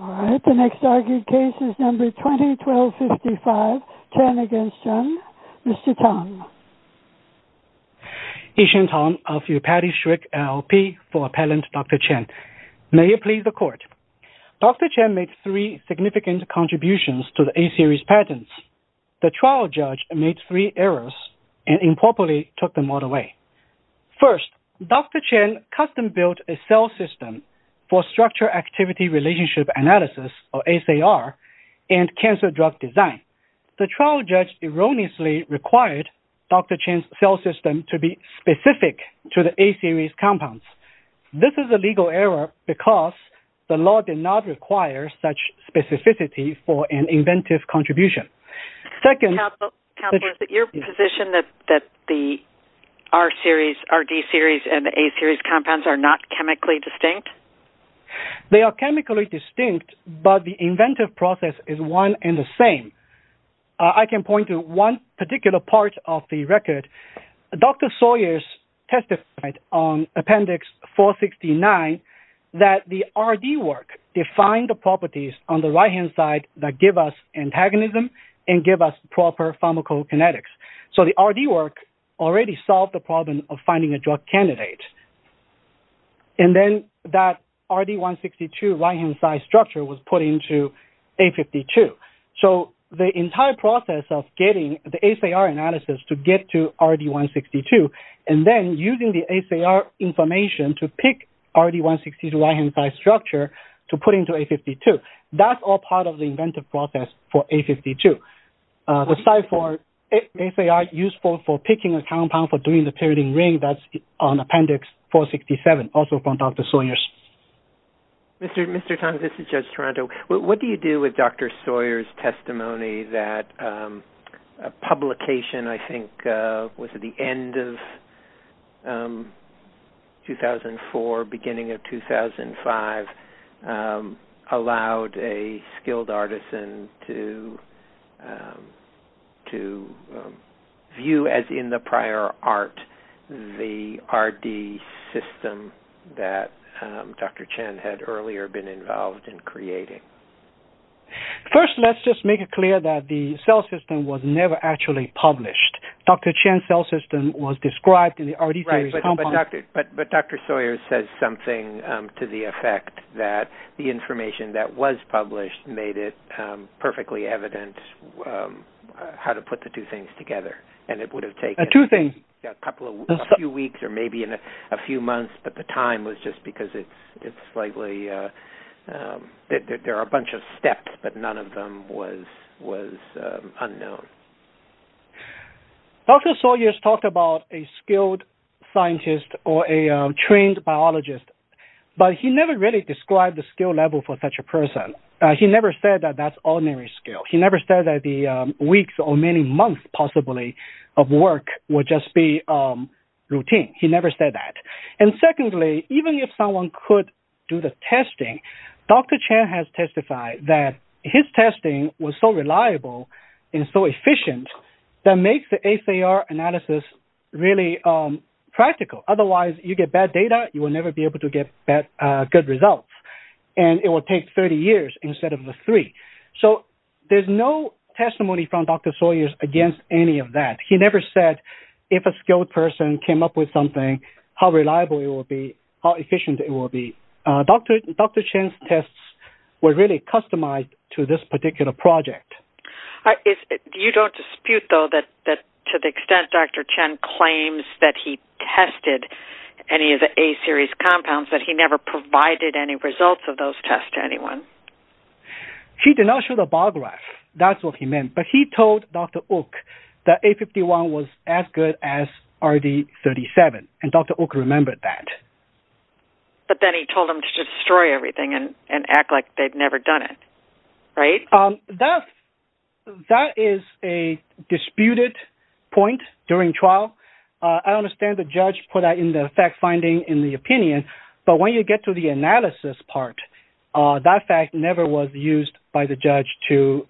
All right, the next argued case is number 20-12-55, Chen v. Jung. Mr. Tong. Yixuan Tong of Yupati Shrek LLP for Appellant Dr. Chen. May it please the court. Dr. Chen made three significant contributions to the A-series patents. The trial judge made three errors and improperly took them all away. First, Dr. Chen custom built a cell system for structure activity relationship analysis, or SAR, and cancer drug design. The trial judge erroneously required Dr. Chen's cell system to be specific to the A-series compounds. This is a legal error because the law did not require such specificity for an inventive contribution. Second- Counselor, is it your position that the R-series, Rd-series, and A-series compounds are not chemically distinct, but the inventive process is one and the same? I can point to one particular part of the record. Dr. Sawyers testified on Appendix 469 that the Rd work defined the properties on the right-hand side that give us antagonism and give us proper pharmacokinetics. So the Rd work already solved the problem of finding a drug candidate. And then that Rd-162 right-hand side structure was put into A-52. So the entire process of getting the SAR analysis to get to Rd-162 and then using the SAR information to pick Rd-162 right-hand side structure to put into A-52, that's all part of the inventive process for A-52. Aside for if they are useful for picking a compound for doing the pyridine ring, that's on Appendix 467, also from Dr. Sawyers. Mr. Tong, this is Judge Toronto. What do you do with Dr. Sawyers' testimony that a publication, I think, was at the end of the Rd-162 to view as in the prior art the Rd system that Dr. Chen had earlier been involved in creating? First, let's just make it clear that the cell system was never actually published. Dr. Chen's cell system was described in the Rd theory compound. But Dr. Sawyers says something to the effect that the information that was published made it perfectly evident how to put the two things together. And it would have taken a few weeks or maybe a few months, but the time was just because there are a bunch of steps, but none of them was unknown. Dr. Sawyers talked about a skilled scientist or a trained biologist, but he never really described the skill level for such a person. He never said that that's ordinary skill. He never said that the weeks or many months possibly of work would just be routine. He never said that. And secondly, even if someone could do the testing, Dr. Chen has testified that his testing was so reliable and so efficient that makes the ACR analysis really practical. Otherwise, you get bad data, you will never be able to get good results. And it will take 30 years instead of the three. So there's no testimony from Dr. Sawyers against any of that. He never said if a skilled person came up with something, how reliable it will be, how efficient it will be. Dr. Chen's tests were really customized to this particular project. You don't dispute though that to the extent Dr. Chen claims that he tested any of the A-series compounds, that he never provided any results of those tests to anyone? He did not show the bar graph. That's what he meant. But he told Dr. Oock that A51 was as good as RD37. And Dr. Oock remembered that. But then he told him to destroy everything and act like they've never done it, right? That is a disputed point during trial. I understand the judge put that in the fact finding in the opinion. But when you get to the analysis part, that fact never was used by the judge to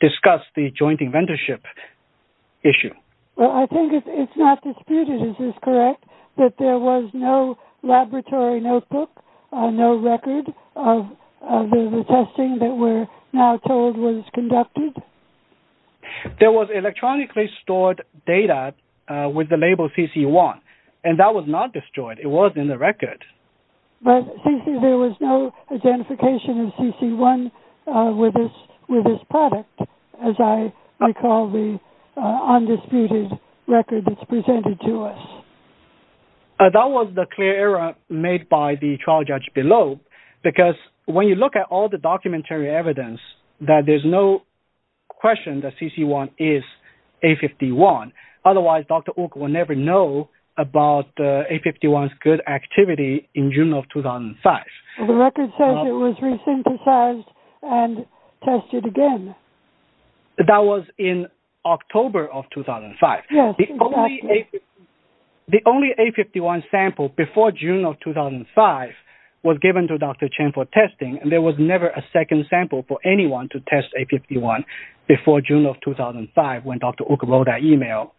discuss the joint inventorship. Issue. Well, I think it's not disputed. Is this correct? That there was no laboratory notebook, no record of the testing that we're now told was conducted? There was electronically stored data with the label CC1. And that was not destroyed. It was in the record. But there was no identification of CC1 with this product, as I recall the undisputed record that's presented to us. That was the clear error made by the trial judge below. Because when you look at all the documentary evidence, that there's no question that CC1 is A51. Otherwise, Dr. Oock will never know about A51's good activity in June of 2005. The record says it was re-synthesized and tested again. That was in October of 2005. Yes. The only A51 sample before June of 2005 was given to Dr. Chen for testing. And there was never a second sample for anyone to test A51 before June of 2005 when Dr. Oock wrote that email.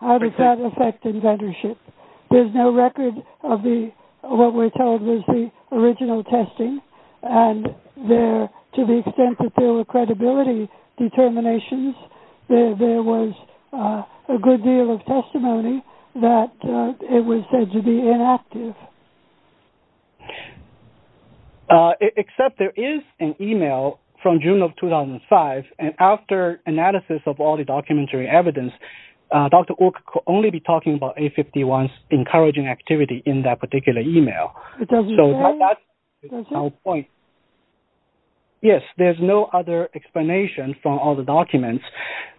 How does that affect inventorship? There's no record of what we're told was the original testing. And to the extent that there were credibility determinations, there was a good deal of testimony that it was said to be inactive. Yes. Except there is an email from June of 2005. And after analysis of all the documentary evidence, Dr. Oock could only be talking about A51's encouraging activity in that particular email. So that's our point. Yes. There's no other explanation from all the documents.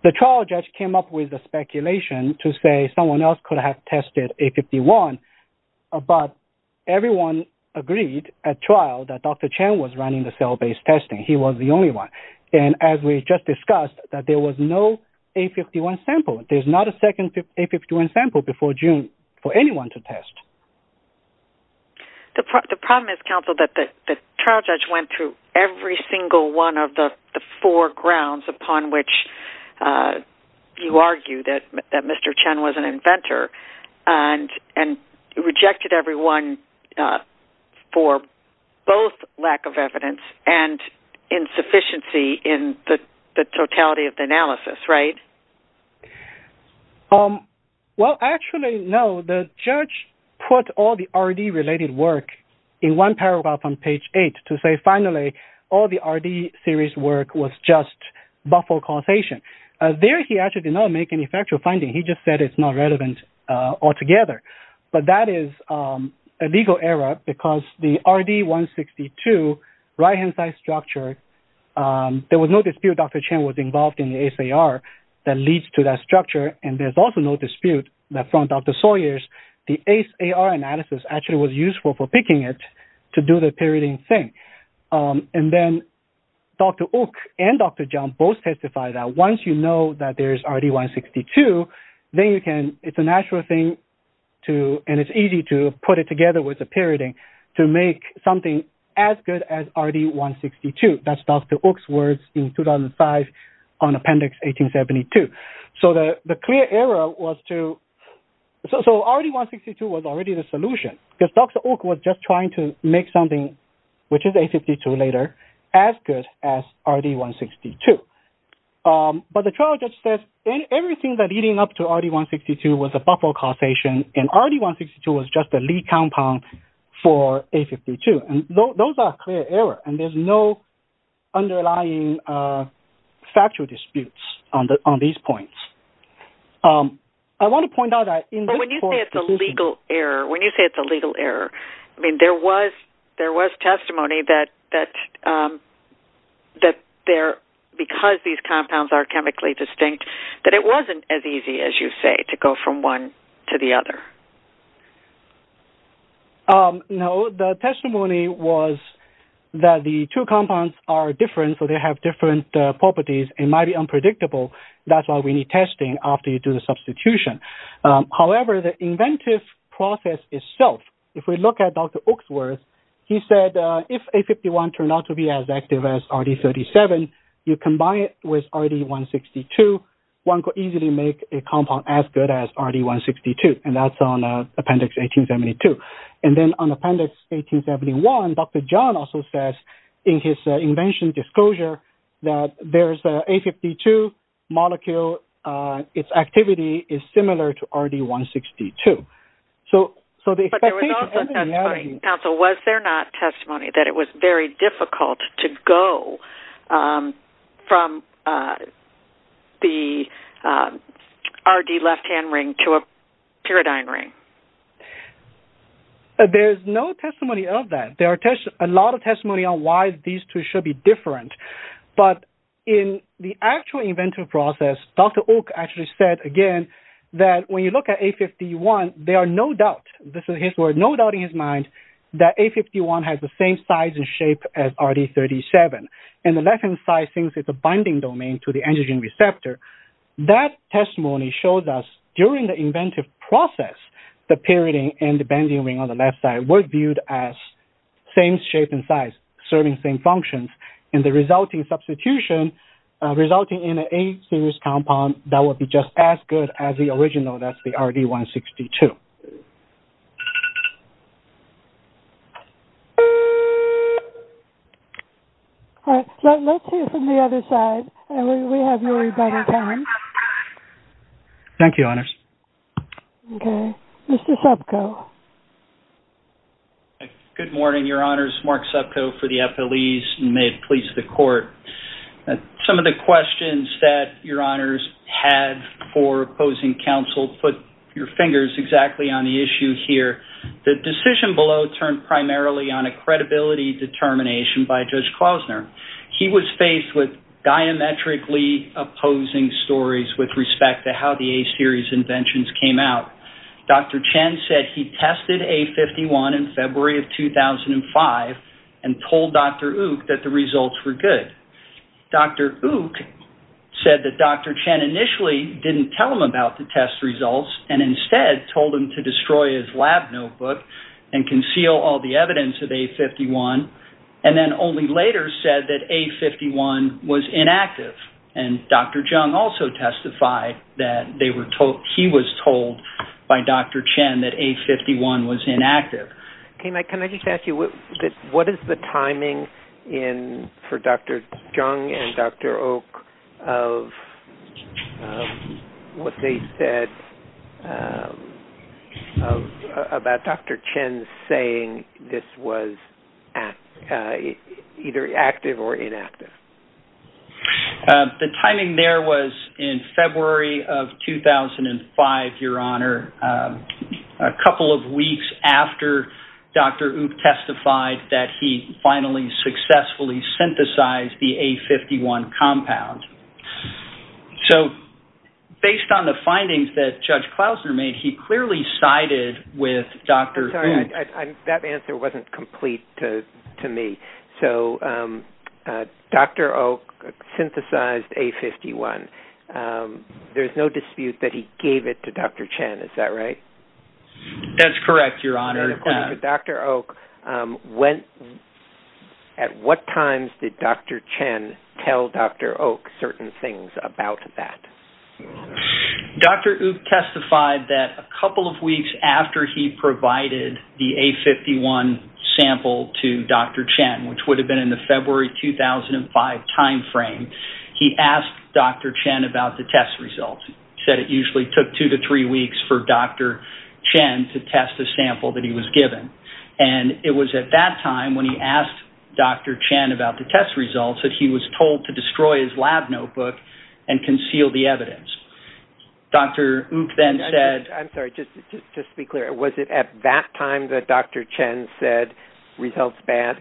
The trial judge came up with the speculation to say someone else could have tested A51 but everyone agreed at trial that Dr. Chen was running the cell-based testing. He was the only one. And as we just discussed, that there was no A51 sample. There's not a second A51 sample before June for anyone to test. The problem is, counsel, that the trial judge went through every single one of the four grounds upon which you argue that Mr. Chen was an inventor and rejected everyone for both lack of evidence and insufficiency in the totality of the analysis, right? Well, actually, no. The judge put all the RD-related work in one paragraph on page eight to say, finally, all the RD series work was just buffer causation. There, he actually did not make any factual finding. He just said it's not relevant altogether. But that is a legal error because the RD162 right-hand side structure, there was no dispute Dr. Chen was involved in the ACR that leads to that structure. And there's also no dispute that from Dr. Sawyer's, the ACE-AR analysis actually was useful for picking it to do the pyridine thing. And then Dr. Oak and Dr. John both testified that once you know that there's RD162, then you can, it's a natural thing to, and it's easy to put it together with the pyridine to make something as good as RD162. That's Dr. Oak's words in 2005 on Appendix 1872. So the clear error was to, so RD162 was already the solution because Dr. Oak was just trying to make something, which is A52 later, as good as RD162. But the trial judge says everything that leading up to RD162 was a buffer causation and RD162 was just a lead compound for A52. And those are clear error and there's no underlying factual disputes on these points. I want to point out that- But when you say it's a legal error, when you say it's a legal error, I mean, there was testimony that because these compounds are chemically distinct, that it wasn't as easy as you say to go from one to the other. No, the testimony was that the two compounds are different, so they have different properties and might be unpredictable. That's why we need testing after you do the substitution. However, the inventive process itself, if we look at Dr. Oak's words, he said if A51 turned out to be as active as RD37, you combine it with RD162, one could easily make a compound as good as RD162. That's on Appendix 1872. And then on Appendix 1871, Dr. John also says in his invention disclosure that there's an A52 molecule, its activity is similar to RD162. So the- But there was also testimony, counsel, was there not testimony that it was very difficult to go from the RD left-hand ring to a pyridine ring? There's no testimony of that. There are a lot of testimony on why these two should be different. But in the actual inventive process, Dr. Oak actually said, again, that when you look at A51, there are no doubts, this is his word, no doubt in his mind that A51 has the same size and shape as RD37. And the left-hand side thinks it's a binding domain to the antigen receptor. That testimony shows us during the inventive process, the pyridine and the bending ring on the left side were viewed as same shape and size, serving same functions. And the resulting substitution, resulting in an A-series compound that would be just as good as the original, that's the RD162. All right. Let's hear from the other side. We have really better time. Thank you, honors. Okay. Mr. Subko. Good morning, your honors. Mark Subko for the FLEs and may it please the court. Some of the questions that your honors had for opposing counsel put your fingers exactly on the issue here. The decision below turned primarily on a credibility determination by Judge Klausner. He was faced with diametrically opposing stories with respect to how the A-series inventions came out. Dr. Chen said he tested A51 in February of 2005 and told Dr. Oak that results were good. Dr. Oak said that Dr. Chen initially didn't tell him about the test results and instead told him to destroy his lab notebook and conceal all the evidence of A51 and then only later said that A51 was inactive. And Dr. Jung also testified that he was told by Dr. Chen that A51 was inactive. Can I just ask you, what is the timing for Dr. Jung and Dr. Oak of what they said about Dr. Chen saying this was either active or inactive? The timing there was in February of 2005, your honor. A couple of weeks after Dr. Oak testified that he finally successfully synthesized the A51 compound. So based on the findings that Judge Klausner made, he clearly sided with Dr. Oak. That answer wasn't complete to me. So Dr. Oak synthesized A51. There's no dispute that he gave it to Dr. Chen. Is that right? That's correct, your honor. Dr. Oak, at what times did Dr. Chen tell Dr. Oak certain things about that? Dr. Oak testified that a couple of weeks after he provided the A51 sample to Dr. Chen, which would have been in the February 2005 timeframe, he asked Dr. Chen about the test results. He said it usually took two to three weeks for Dr. Chen to test the sample that he was given. And it was at that time when he asked Dr. Chen about the test results that he was told to destroy his lab notebook and conceal the evidence. Dr. Oak then said... I'm sorry, just to be clear, was it at that time that Dr. Chen said results bad?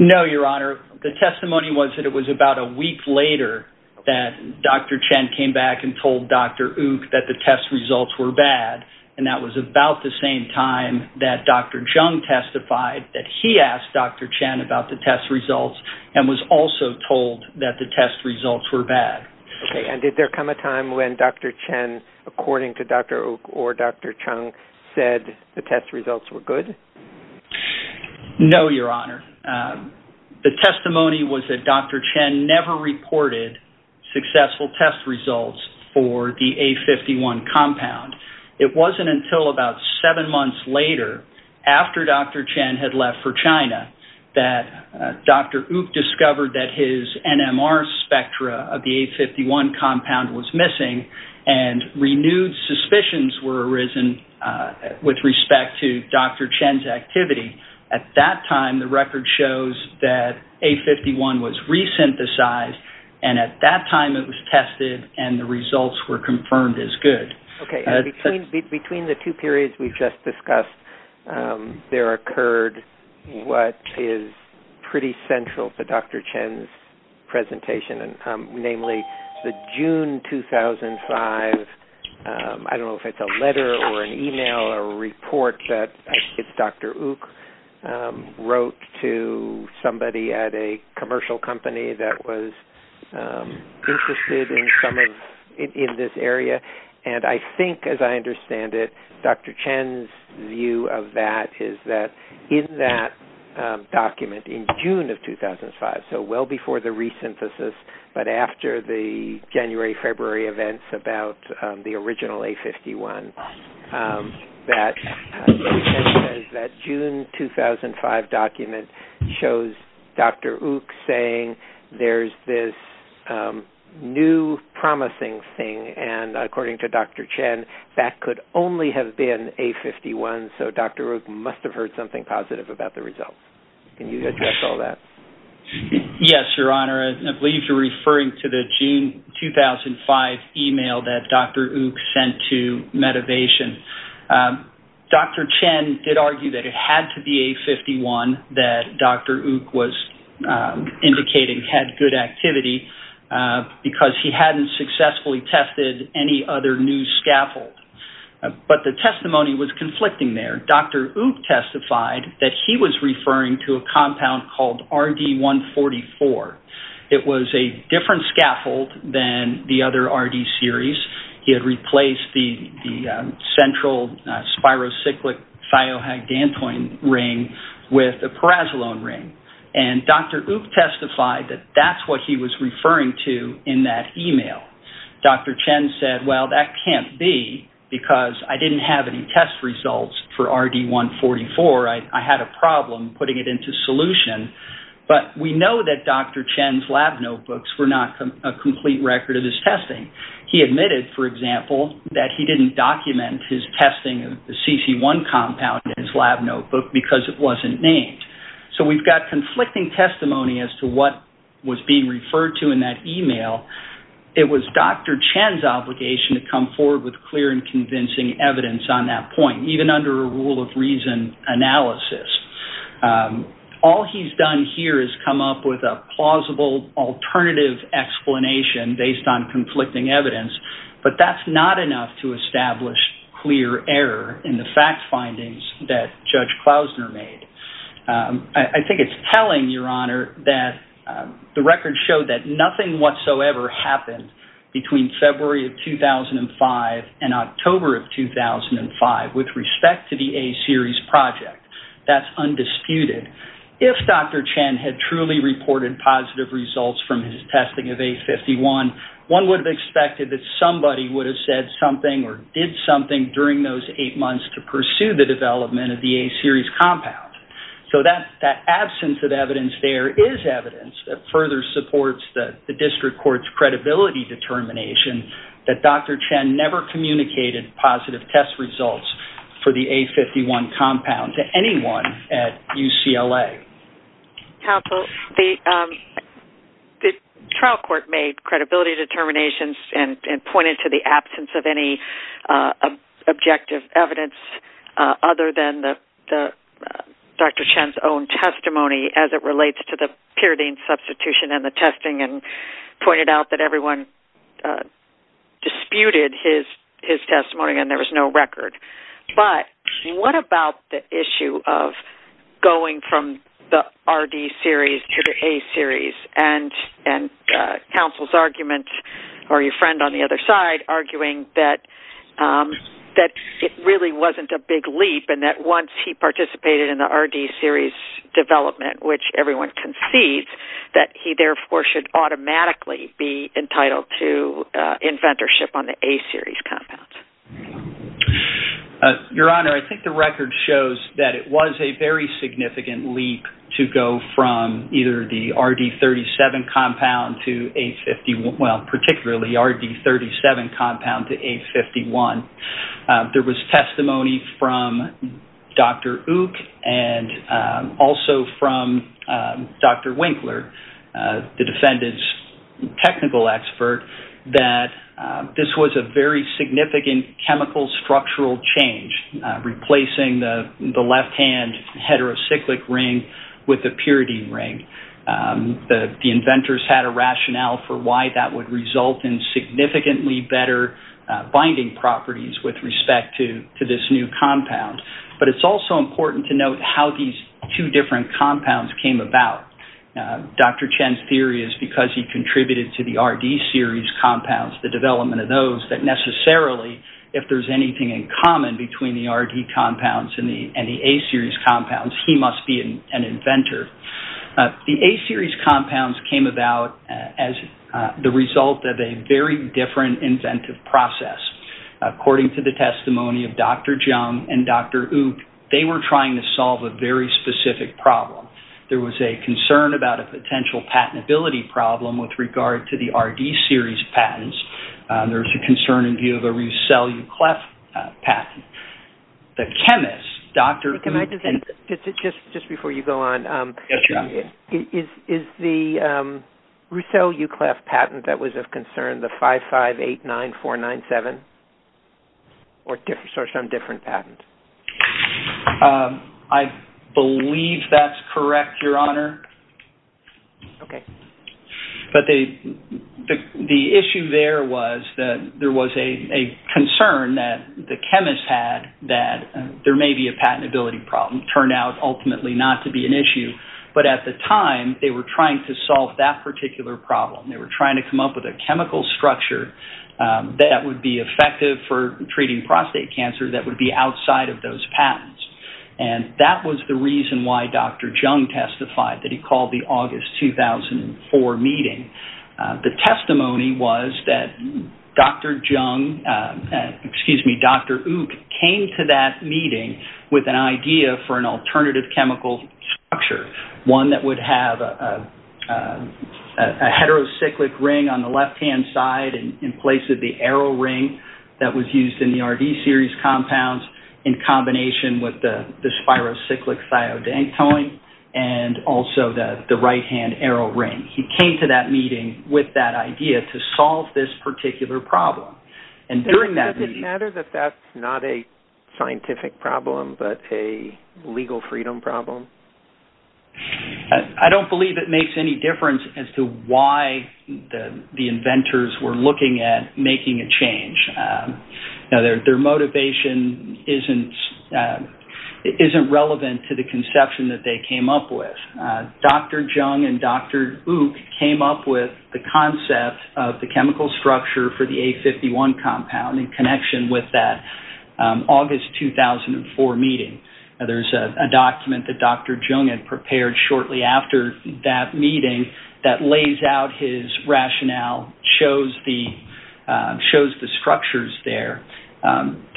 No, your honor. The testimony was that it was about a week later that Dr. Chen came back and told Dr. Oak that the test results were bad. And that was about the same time that Dr. Jung testified that he asked Dr. Chen about the test results and was also told that the test results were bad. Okay. And did there come a time when Dr. Chen, according to Dr. Oak or Dr. Jung, said the test results were good? No, your honor. The testimony was that Dr. Chen never reported successful test results for the A51 compound. It wasn't until about seven months later, after Dr. Chen had left for China, that Dr. Oak discovered that his NMR spectra of the A51 compound was missing and renewed suspicions were arisen with respect to Dr. Chen's activity. At that time, the record shows that A51 was resynthesized and at that time it was tested and the results were confirmed as good. Okay. And between the two periods we've just discussed, there occurred what is pretty central to Dr. Chen's presentation, namely, the June 2005, I don't know if it's a letter or an email or a report that I think it's Dr. Oak wrote to somebody at a commercial company that was interested in this area. And I think, as I understand it, Dr. Chen's view of that is that in that document in June of 2005, so well before the resynthesis, but after the January-February events about the original A51, that June 2005 document shows Dr. Oak saying there's this new promising thing and, according to Dr. Chen, that could only have been A51, so Dr. Oak must have heard something positive about the results. Can you address all that? Yes, Your Honor. I believe you're referring to the activation. Dr. Chen did argue that it had to be A51 that Dr. Oak was indicating had good activity because he hadn't successfully tested any other new scaffold. But the testimony was conflicting there. Dr. Oak testified that he was referring to a compound called RD-144. It was a different scaffold than the other RD series. He had replaced the central spirocyclic thiohagdantoin ring with a parazolone ring. And Dr. Oak testified that that's what he was referring to in that email. Dr. Chen said, well, that can't be because I didn't have any results for RD-144. I had a problem putting it into solution. But we know that Dr. Chen's lab notebooks were not a complete record of his testing. He admitted, for example, that he didn't document his testing of the CC1 compound in his lab notebook because it wasn't named. So we've got conflicting testimony as to what was being referred to in that email. It was Dr. Chen's obligation to come forward with clear and convincing evidence on that point, even under a rule of reason analysis. All he's done here is come up with a plausible, alternative explanation based on conflicting evidence. But that's not enough to establish clear error in the fact findings that Judge Klausner made. I think it's telling, Your Honor, that the record showed that nothing whatsoever happened between February of 2005 and October of 2005 with respect to the A-series project. That's undisputed. If Dr. Chen had truly reported positive results from his testing of A51, one would have expected that somebody would have said something or did something during those eight months to pursue the development of the A-series compound. So that absence of evidence there is evidence that further supports the district court's credibility determination that Dr. Chen never communicated positive test results for the A51 compound to anyone at UCLA. Counsel, the trial court made credibility Dr. Chen's own testimony as it relates to the pyridine substitution and the testing and pointed out that everyone disputed his testimony and there was no record. But what about the issue of going from the RD series to the A-series and counsel's argument or your friend on the other side arguing that it really wasn't a big leap and that once he participated in the RD series development, which everyone concedes, that he therefore should automatically be entitled to inventorship on the A-series compounds? Your Honor, I think the record shows that it was a significant leap to go from either the RD-37 compound to A51. There was testimony from Dr. Uk and also from Dr. Winkler, the defendant's technical expert, that this was a very significant chemical structural change, replacing the left-hand heterocyclic ring with the pyridine ring. The inventors had a rationale for why that would result in significantly better binding properties with respect to this new compound. But it's also important to note how these two different compounds came about. Dr. Chen's theory is because he contributed to the RD series compounds, the development of those, that necessarily if there's anything in common between the RD compounds and the A-series compounds, he must be an inventor. The A-series compounds came about as the result of a very different inventive process. According to the testimony of Dr. Jung and Dr. Uk, they were trying to solve a very specific problem. There was a concern about a potential patentability problem with regard to the RD series patents. There was a concern in view of a Roussel-Ukleff patent. The chemist, Dr. Uk... Can I just say, just before you go on, is the Roussel-Ukleff patent that was of concern the 5589497 or some different patent? I believe that's correct, Your Honor. Okay. But the issue there was that there was a concern that the chemist had that there may be a patentability problem. It turned out ultimately not to be an issue. But at the time, they were trying to solve that particular problem. They were trying to come up with a chemical structure that would be effective for treating prostate cancer that would be outside of those patents. That was the reason why Dr. Jung testified that he called the August 2004 meeting. The testimony was that Dr. Uk came to that meeting with an idea for an alternative chemical structure, one that would have a heterocyclic ring on the left-hand side in the Rd-series compounds in combination with the spirocyclic thiodanktoin and also the right-hand arrow ring. He came to that meeting with that idea to solve this particular problem. Does it matter that that's not a scientific problem but a legal freedom problem? I don't believe it makes any difference as to why the inventors were looking at making a change. Their motivation isn't relevant to the conception that they came up with. Dr. Jung and Dr. Uk came up with the concept of the chemical structure for the A51 compound in connection with that August 2004 meeting. There's a document that Dr. Jung had prepared shortly after that meeting that lays out his rationale, shows the structures there.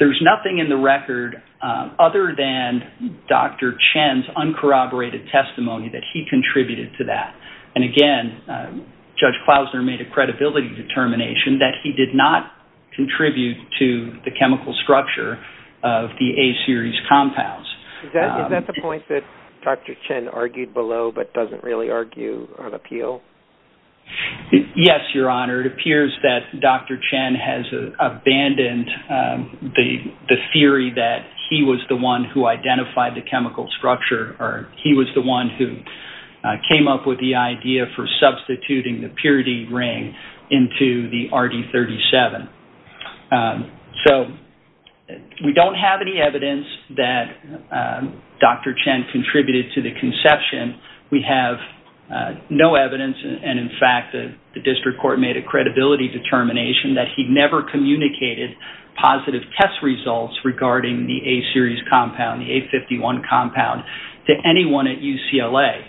There's nothing in the record other than Dr. Chen's uncorroborated testimony that he contributed to that. Again, Judge Klausner made a credibility determination that he did not contribute to the chemical structure of the A-series compounds. Is that the point that Dr. Chen argued below but doesn't really argue or appeal? Yes, Your Honor. It appears that Dr. Chen has abandoned the theory that he was the one who identified the chemical structure or he was the one who came up with the chemical structure. We don't have any evidence that Dr. Chen contributed to the conception. We have no evidence and, in fact, the district court made a credibility determination that he never communicated positive test results regarding the A-series compound, the A51 compound, to anyone at UCLA.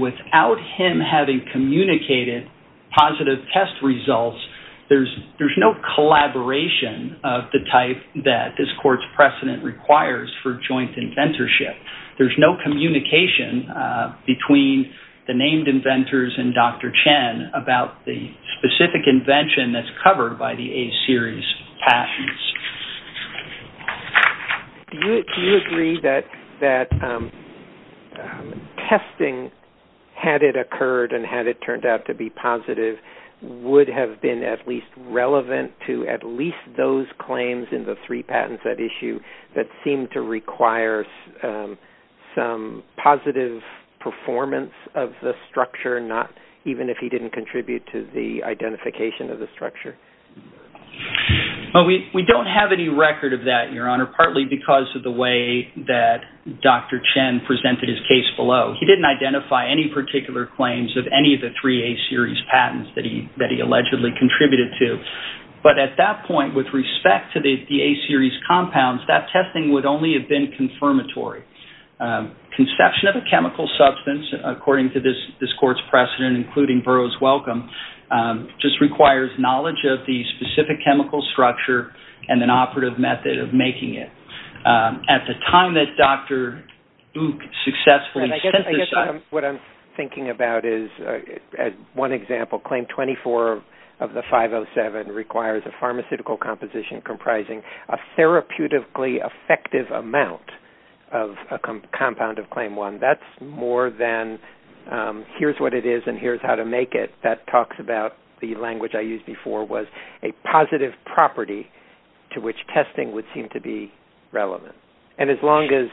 Without him having communicated positive test results, there's no collaboration of the type that this court's precedent requires for joint inventorship. There's no communication between the named inventors and Dr. Chen about the specific invention that's covered by the A-series patents. Do you agree that testing, had it occurred and had it turned out to be positive, would have been at least relevant to at least those claims in the three patents at issue that seem to require some positive performance of the structure, even if he didn't contribute to the identification of the structure? We don't have any record of that, Your Honor, partly because of the way that Dr. Chen presented his case below. He didn't identify any particular claims of any of the three A-series patents that he allegedly contributed to, but at that point, with respect to the A-series compounds, that testing would only have been confirmatory. Conception of a chemical substance, according to this court's precedent, including Burrough's Welcome, just requires knowledge of the specific chemical structure and an operative method of testing. One example, Claim 24 of the 507 requires a pharmaceutical composition comprising a therapeutically effective amount of a compound of Claim 1. That's more than here's what it is and here's how to make it. That talks about the language I used before was a positive property to which testing would seem to be relevant. As long as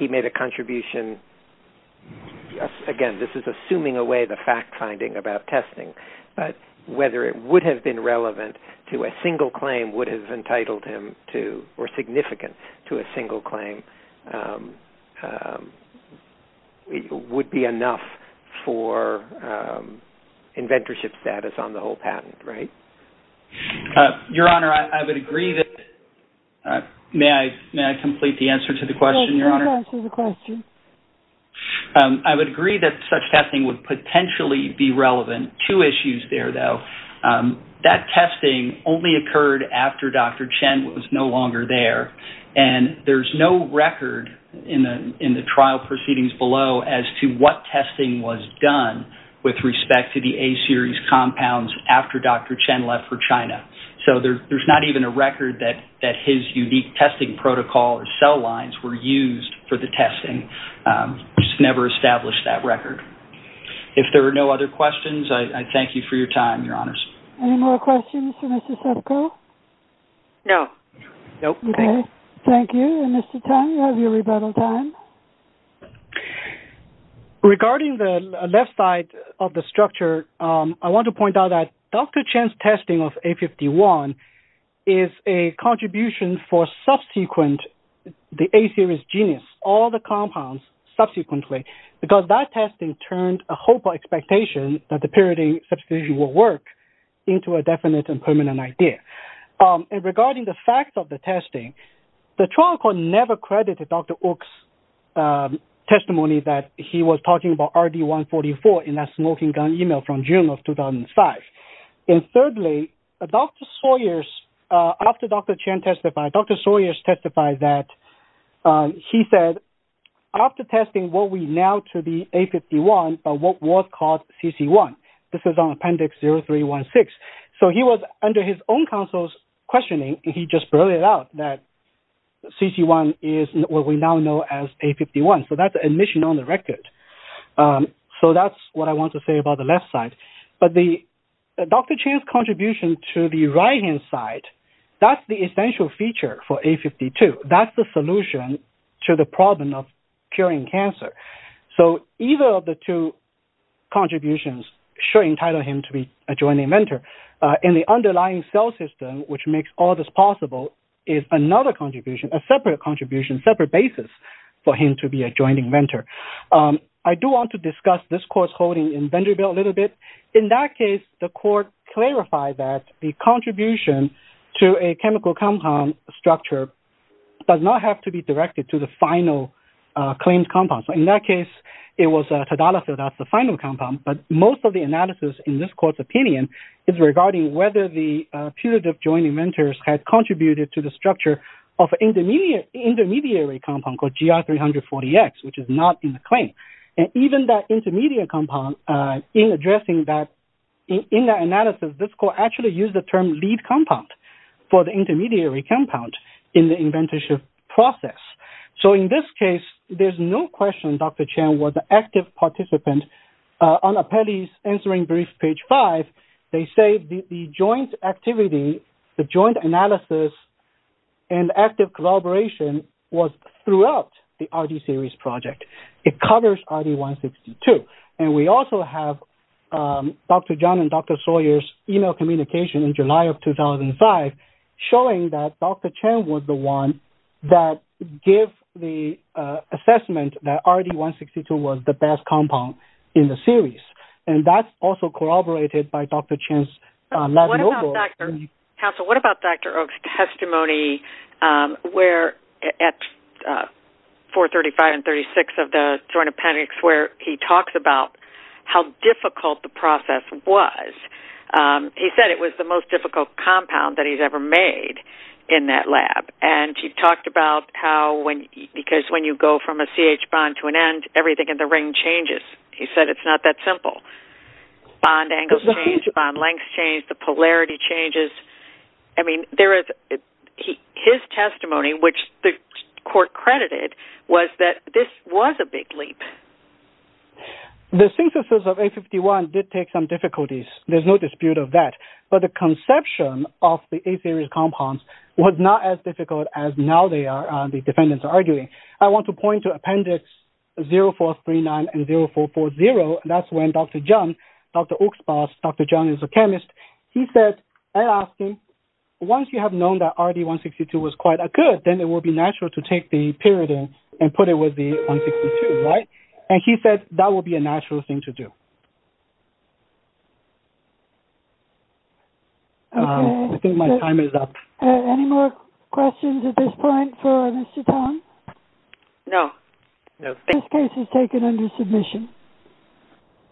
he made a contribution, again, this is assuming away the fact-finding about testing, but whether it would have been relevant to a single claim would have entitled him to or significant to a single claim would be enough for inventorship status on the whole patent, right? Your Honor, I would agree that... May I complete the answer to the question, Your Honor? Your Honor, I would agree that such testing would potentially be relevant. Two issues there, though. That testing only occurred after Dr. Chen was no longer there and there's no record in the trial proceedings below as to what testing was done with respect to the A-series compounds after Dr. Chen left for China. So there's not even a record that his unique testing protocol or cell lines were used for the testing. He's never established that record. If there are no other questions, I thank you for your time, Your Honors. Any more questions for Mr. Sipko? No. Nope. Okay. Thank you. And Mr. Tan, you have your rebuttal time. Regarding the left side of the structure, I want to point out that Dr. Chen's testing of A51 is a contribution for subsequent, the A-series genus, all the compounds subsequently, because that testing turned a hope or expectation that the pyridine substitution will work into a definite and permanent idea. And regarding the facts of the testing, the trial court never credited Dr. Ok's testimony that he was talking about RD-144 in that smoking email from June of 2005. And thirdly, Dr. Sawyers, after Dr. Chen testified, Dr. Sawyers testified that he said, after testing what we now to the A51, but what was called CC1, this is on Appendix 0316. So he was under his own counsel's questioning, and he just brought it out that CC1 is what we now know as A51. So that's admission on the record. So that's what I want to say about the left side. But the Dr. Chen's contribution to the right-hand side, that's the essential feature for A52. That's the solution to the problem of curing cancer. So either of the two contributions should entitle him to be a joint inventor. In the underlying cell system, which makes all this possible, is another contribution, a separate contribution, separate basis for him to be a joint inventor. I do want to discuss this court's holding in Vanderbilt a little bit. In that case, the court clarified that the contribution to a chemical compound structure does not have to be directed to the final claimed compound. So in that case, it was Tadalafil that's the final compound. But most of the analysis in this court's opinion is regarding whether the intermediary compound called GR340X, which is not in the claim, and even that intermediate compound in addressing that, in that analysis, this court actually used the term lead compound for the intermediary compound in the inventorship process. So in this case, there's no question Dr. Chen was an active participant. On Apelli's answering brief, page five, they say the joint activity, the joint analysis, and active collaboration was throughout the RD Series project. It covers RD162. And we also have Dr. John and Dr. Sawyer's email communication in July of 2005 showing that Dr. Chen was the one that gave the assessment that RD162 was the best compound in the series. And that's also corroborated by Dr. Chen's lab notebook. Counsel, what about Dr. Oaks' testimony where at 435 and 336 of the Joint Appendix where he talks about how difficult the process was? He said it was the most difficult compound that he's ever made in that lab. And he talked about because when you go from a CH bond to an end, everything in the ring changes. He said it's not that simple. Bond angles change, bond lengths change, the polarity changes. I mean, his testimony, which the court credited, was that this was a big leap. The synthesis of A51 did take some difficulties. There's no dispute of that. But the conception of the A Series compounds was not as difficult as now the defendants are arguing. I want to point to Appendix 0439 and 0440. That's when Dr. John, Dr. Oaks' boss, Dr. John is a chemist. He said, I asked him, once you have known that RD162 was quite good, then it would be natural to take the pyridine and put it with the 162, right? And he said that would be a natural thing to do. I think my time is up. Okay. Any more questions at this point for Mr. Tong? No. No. Thank you. This case is taken under submission.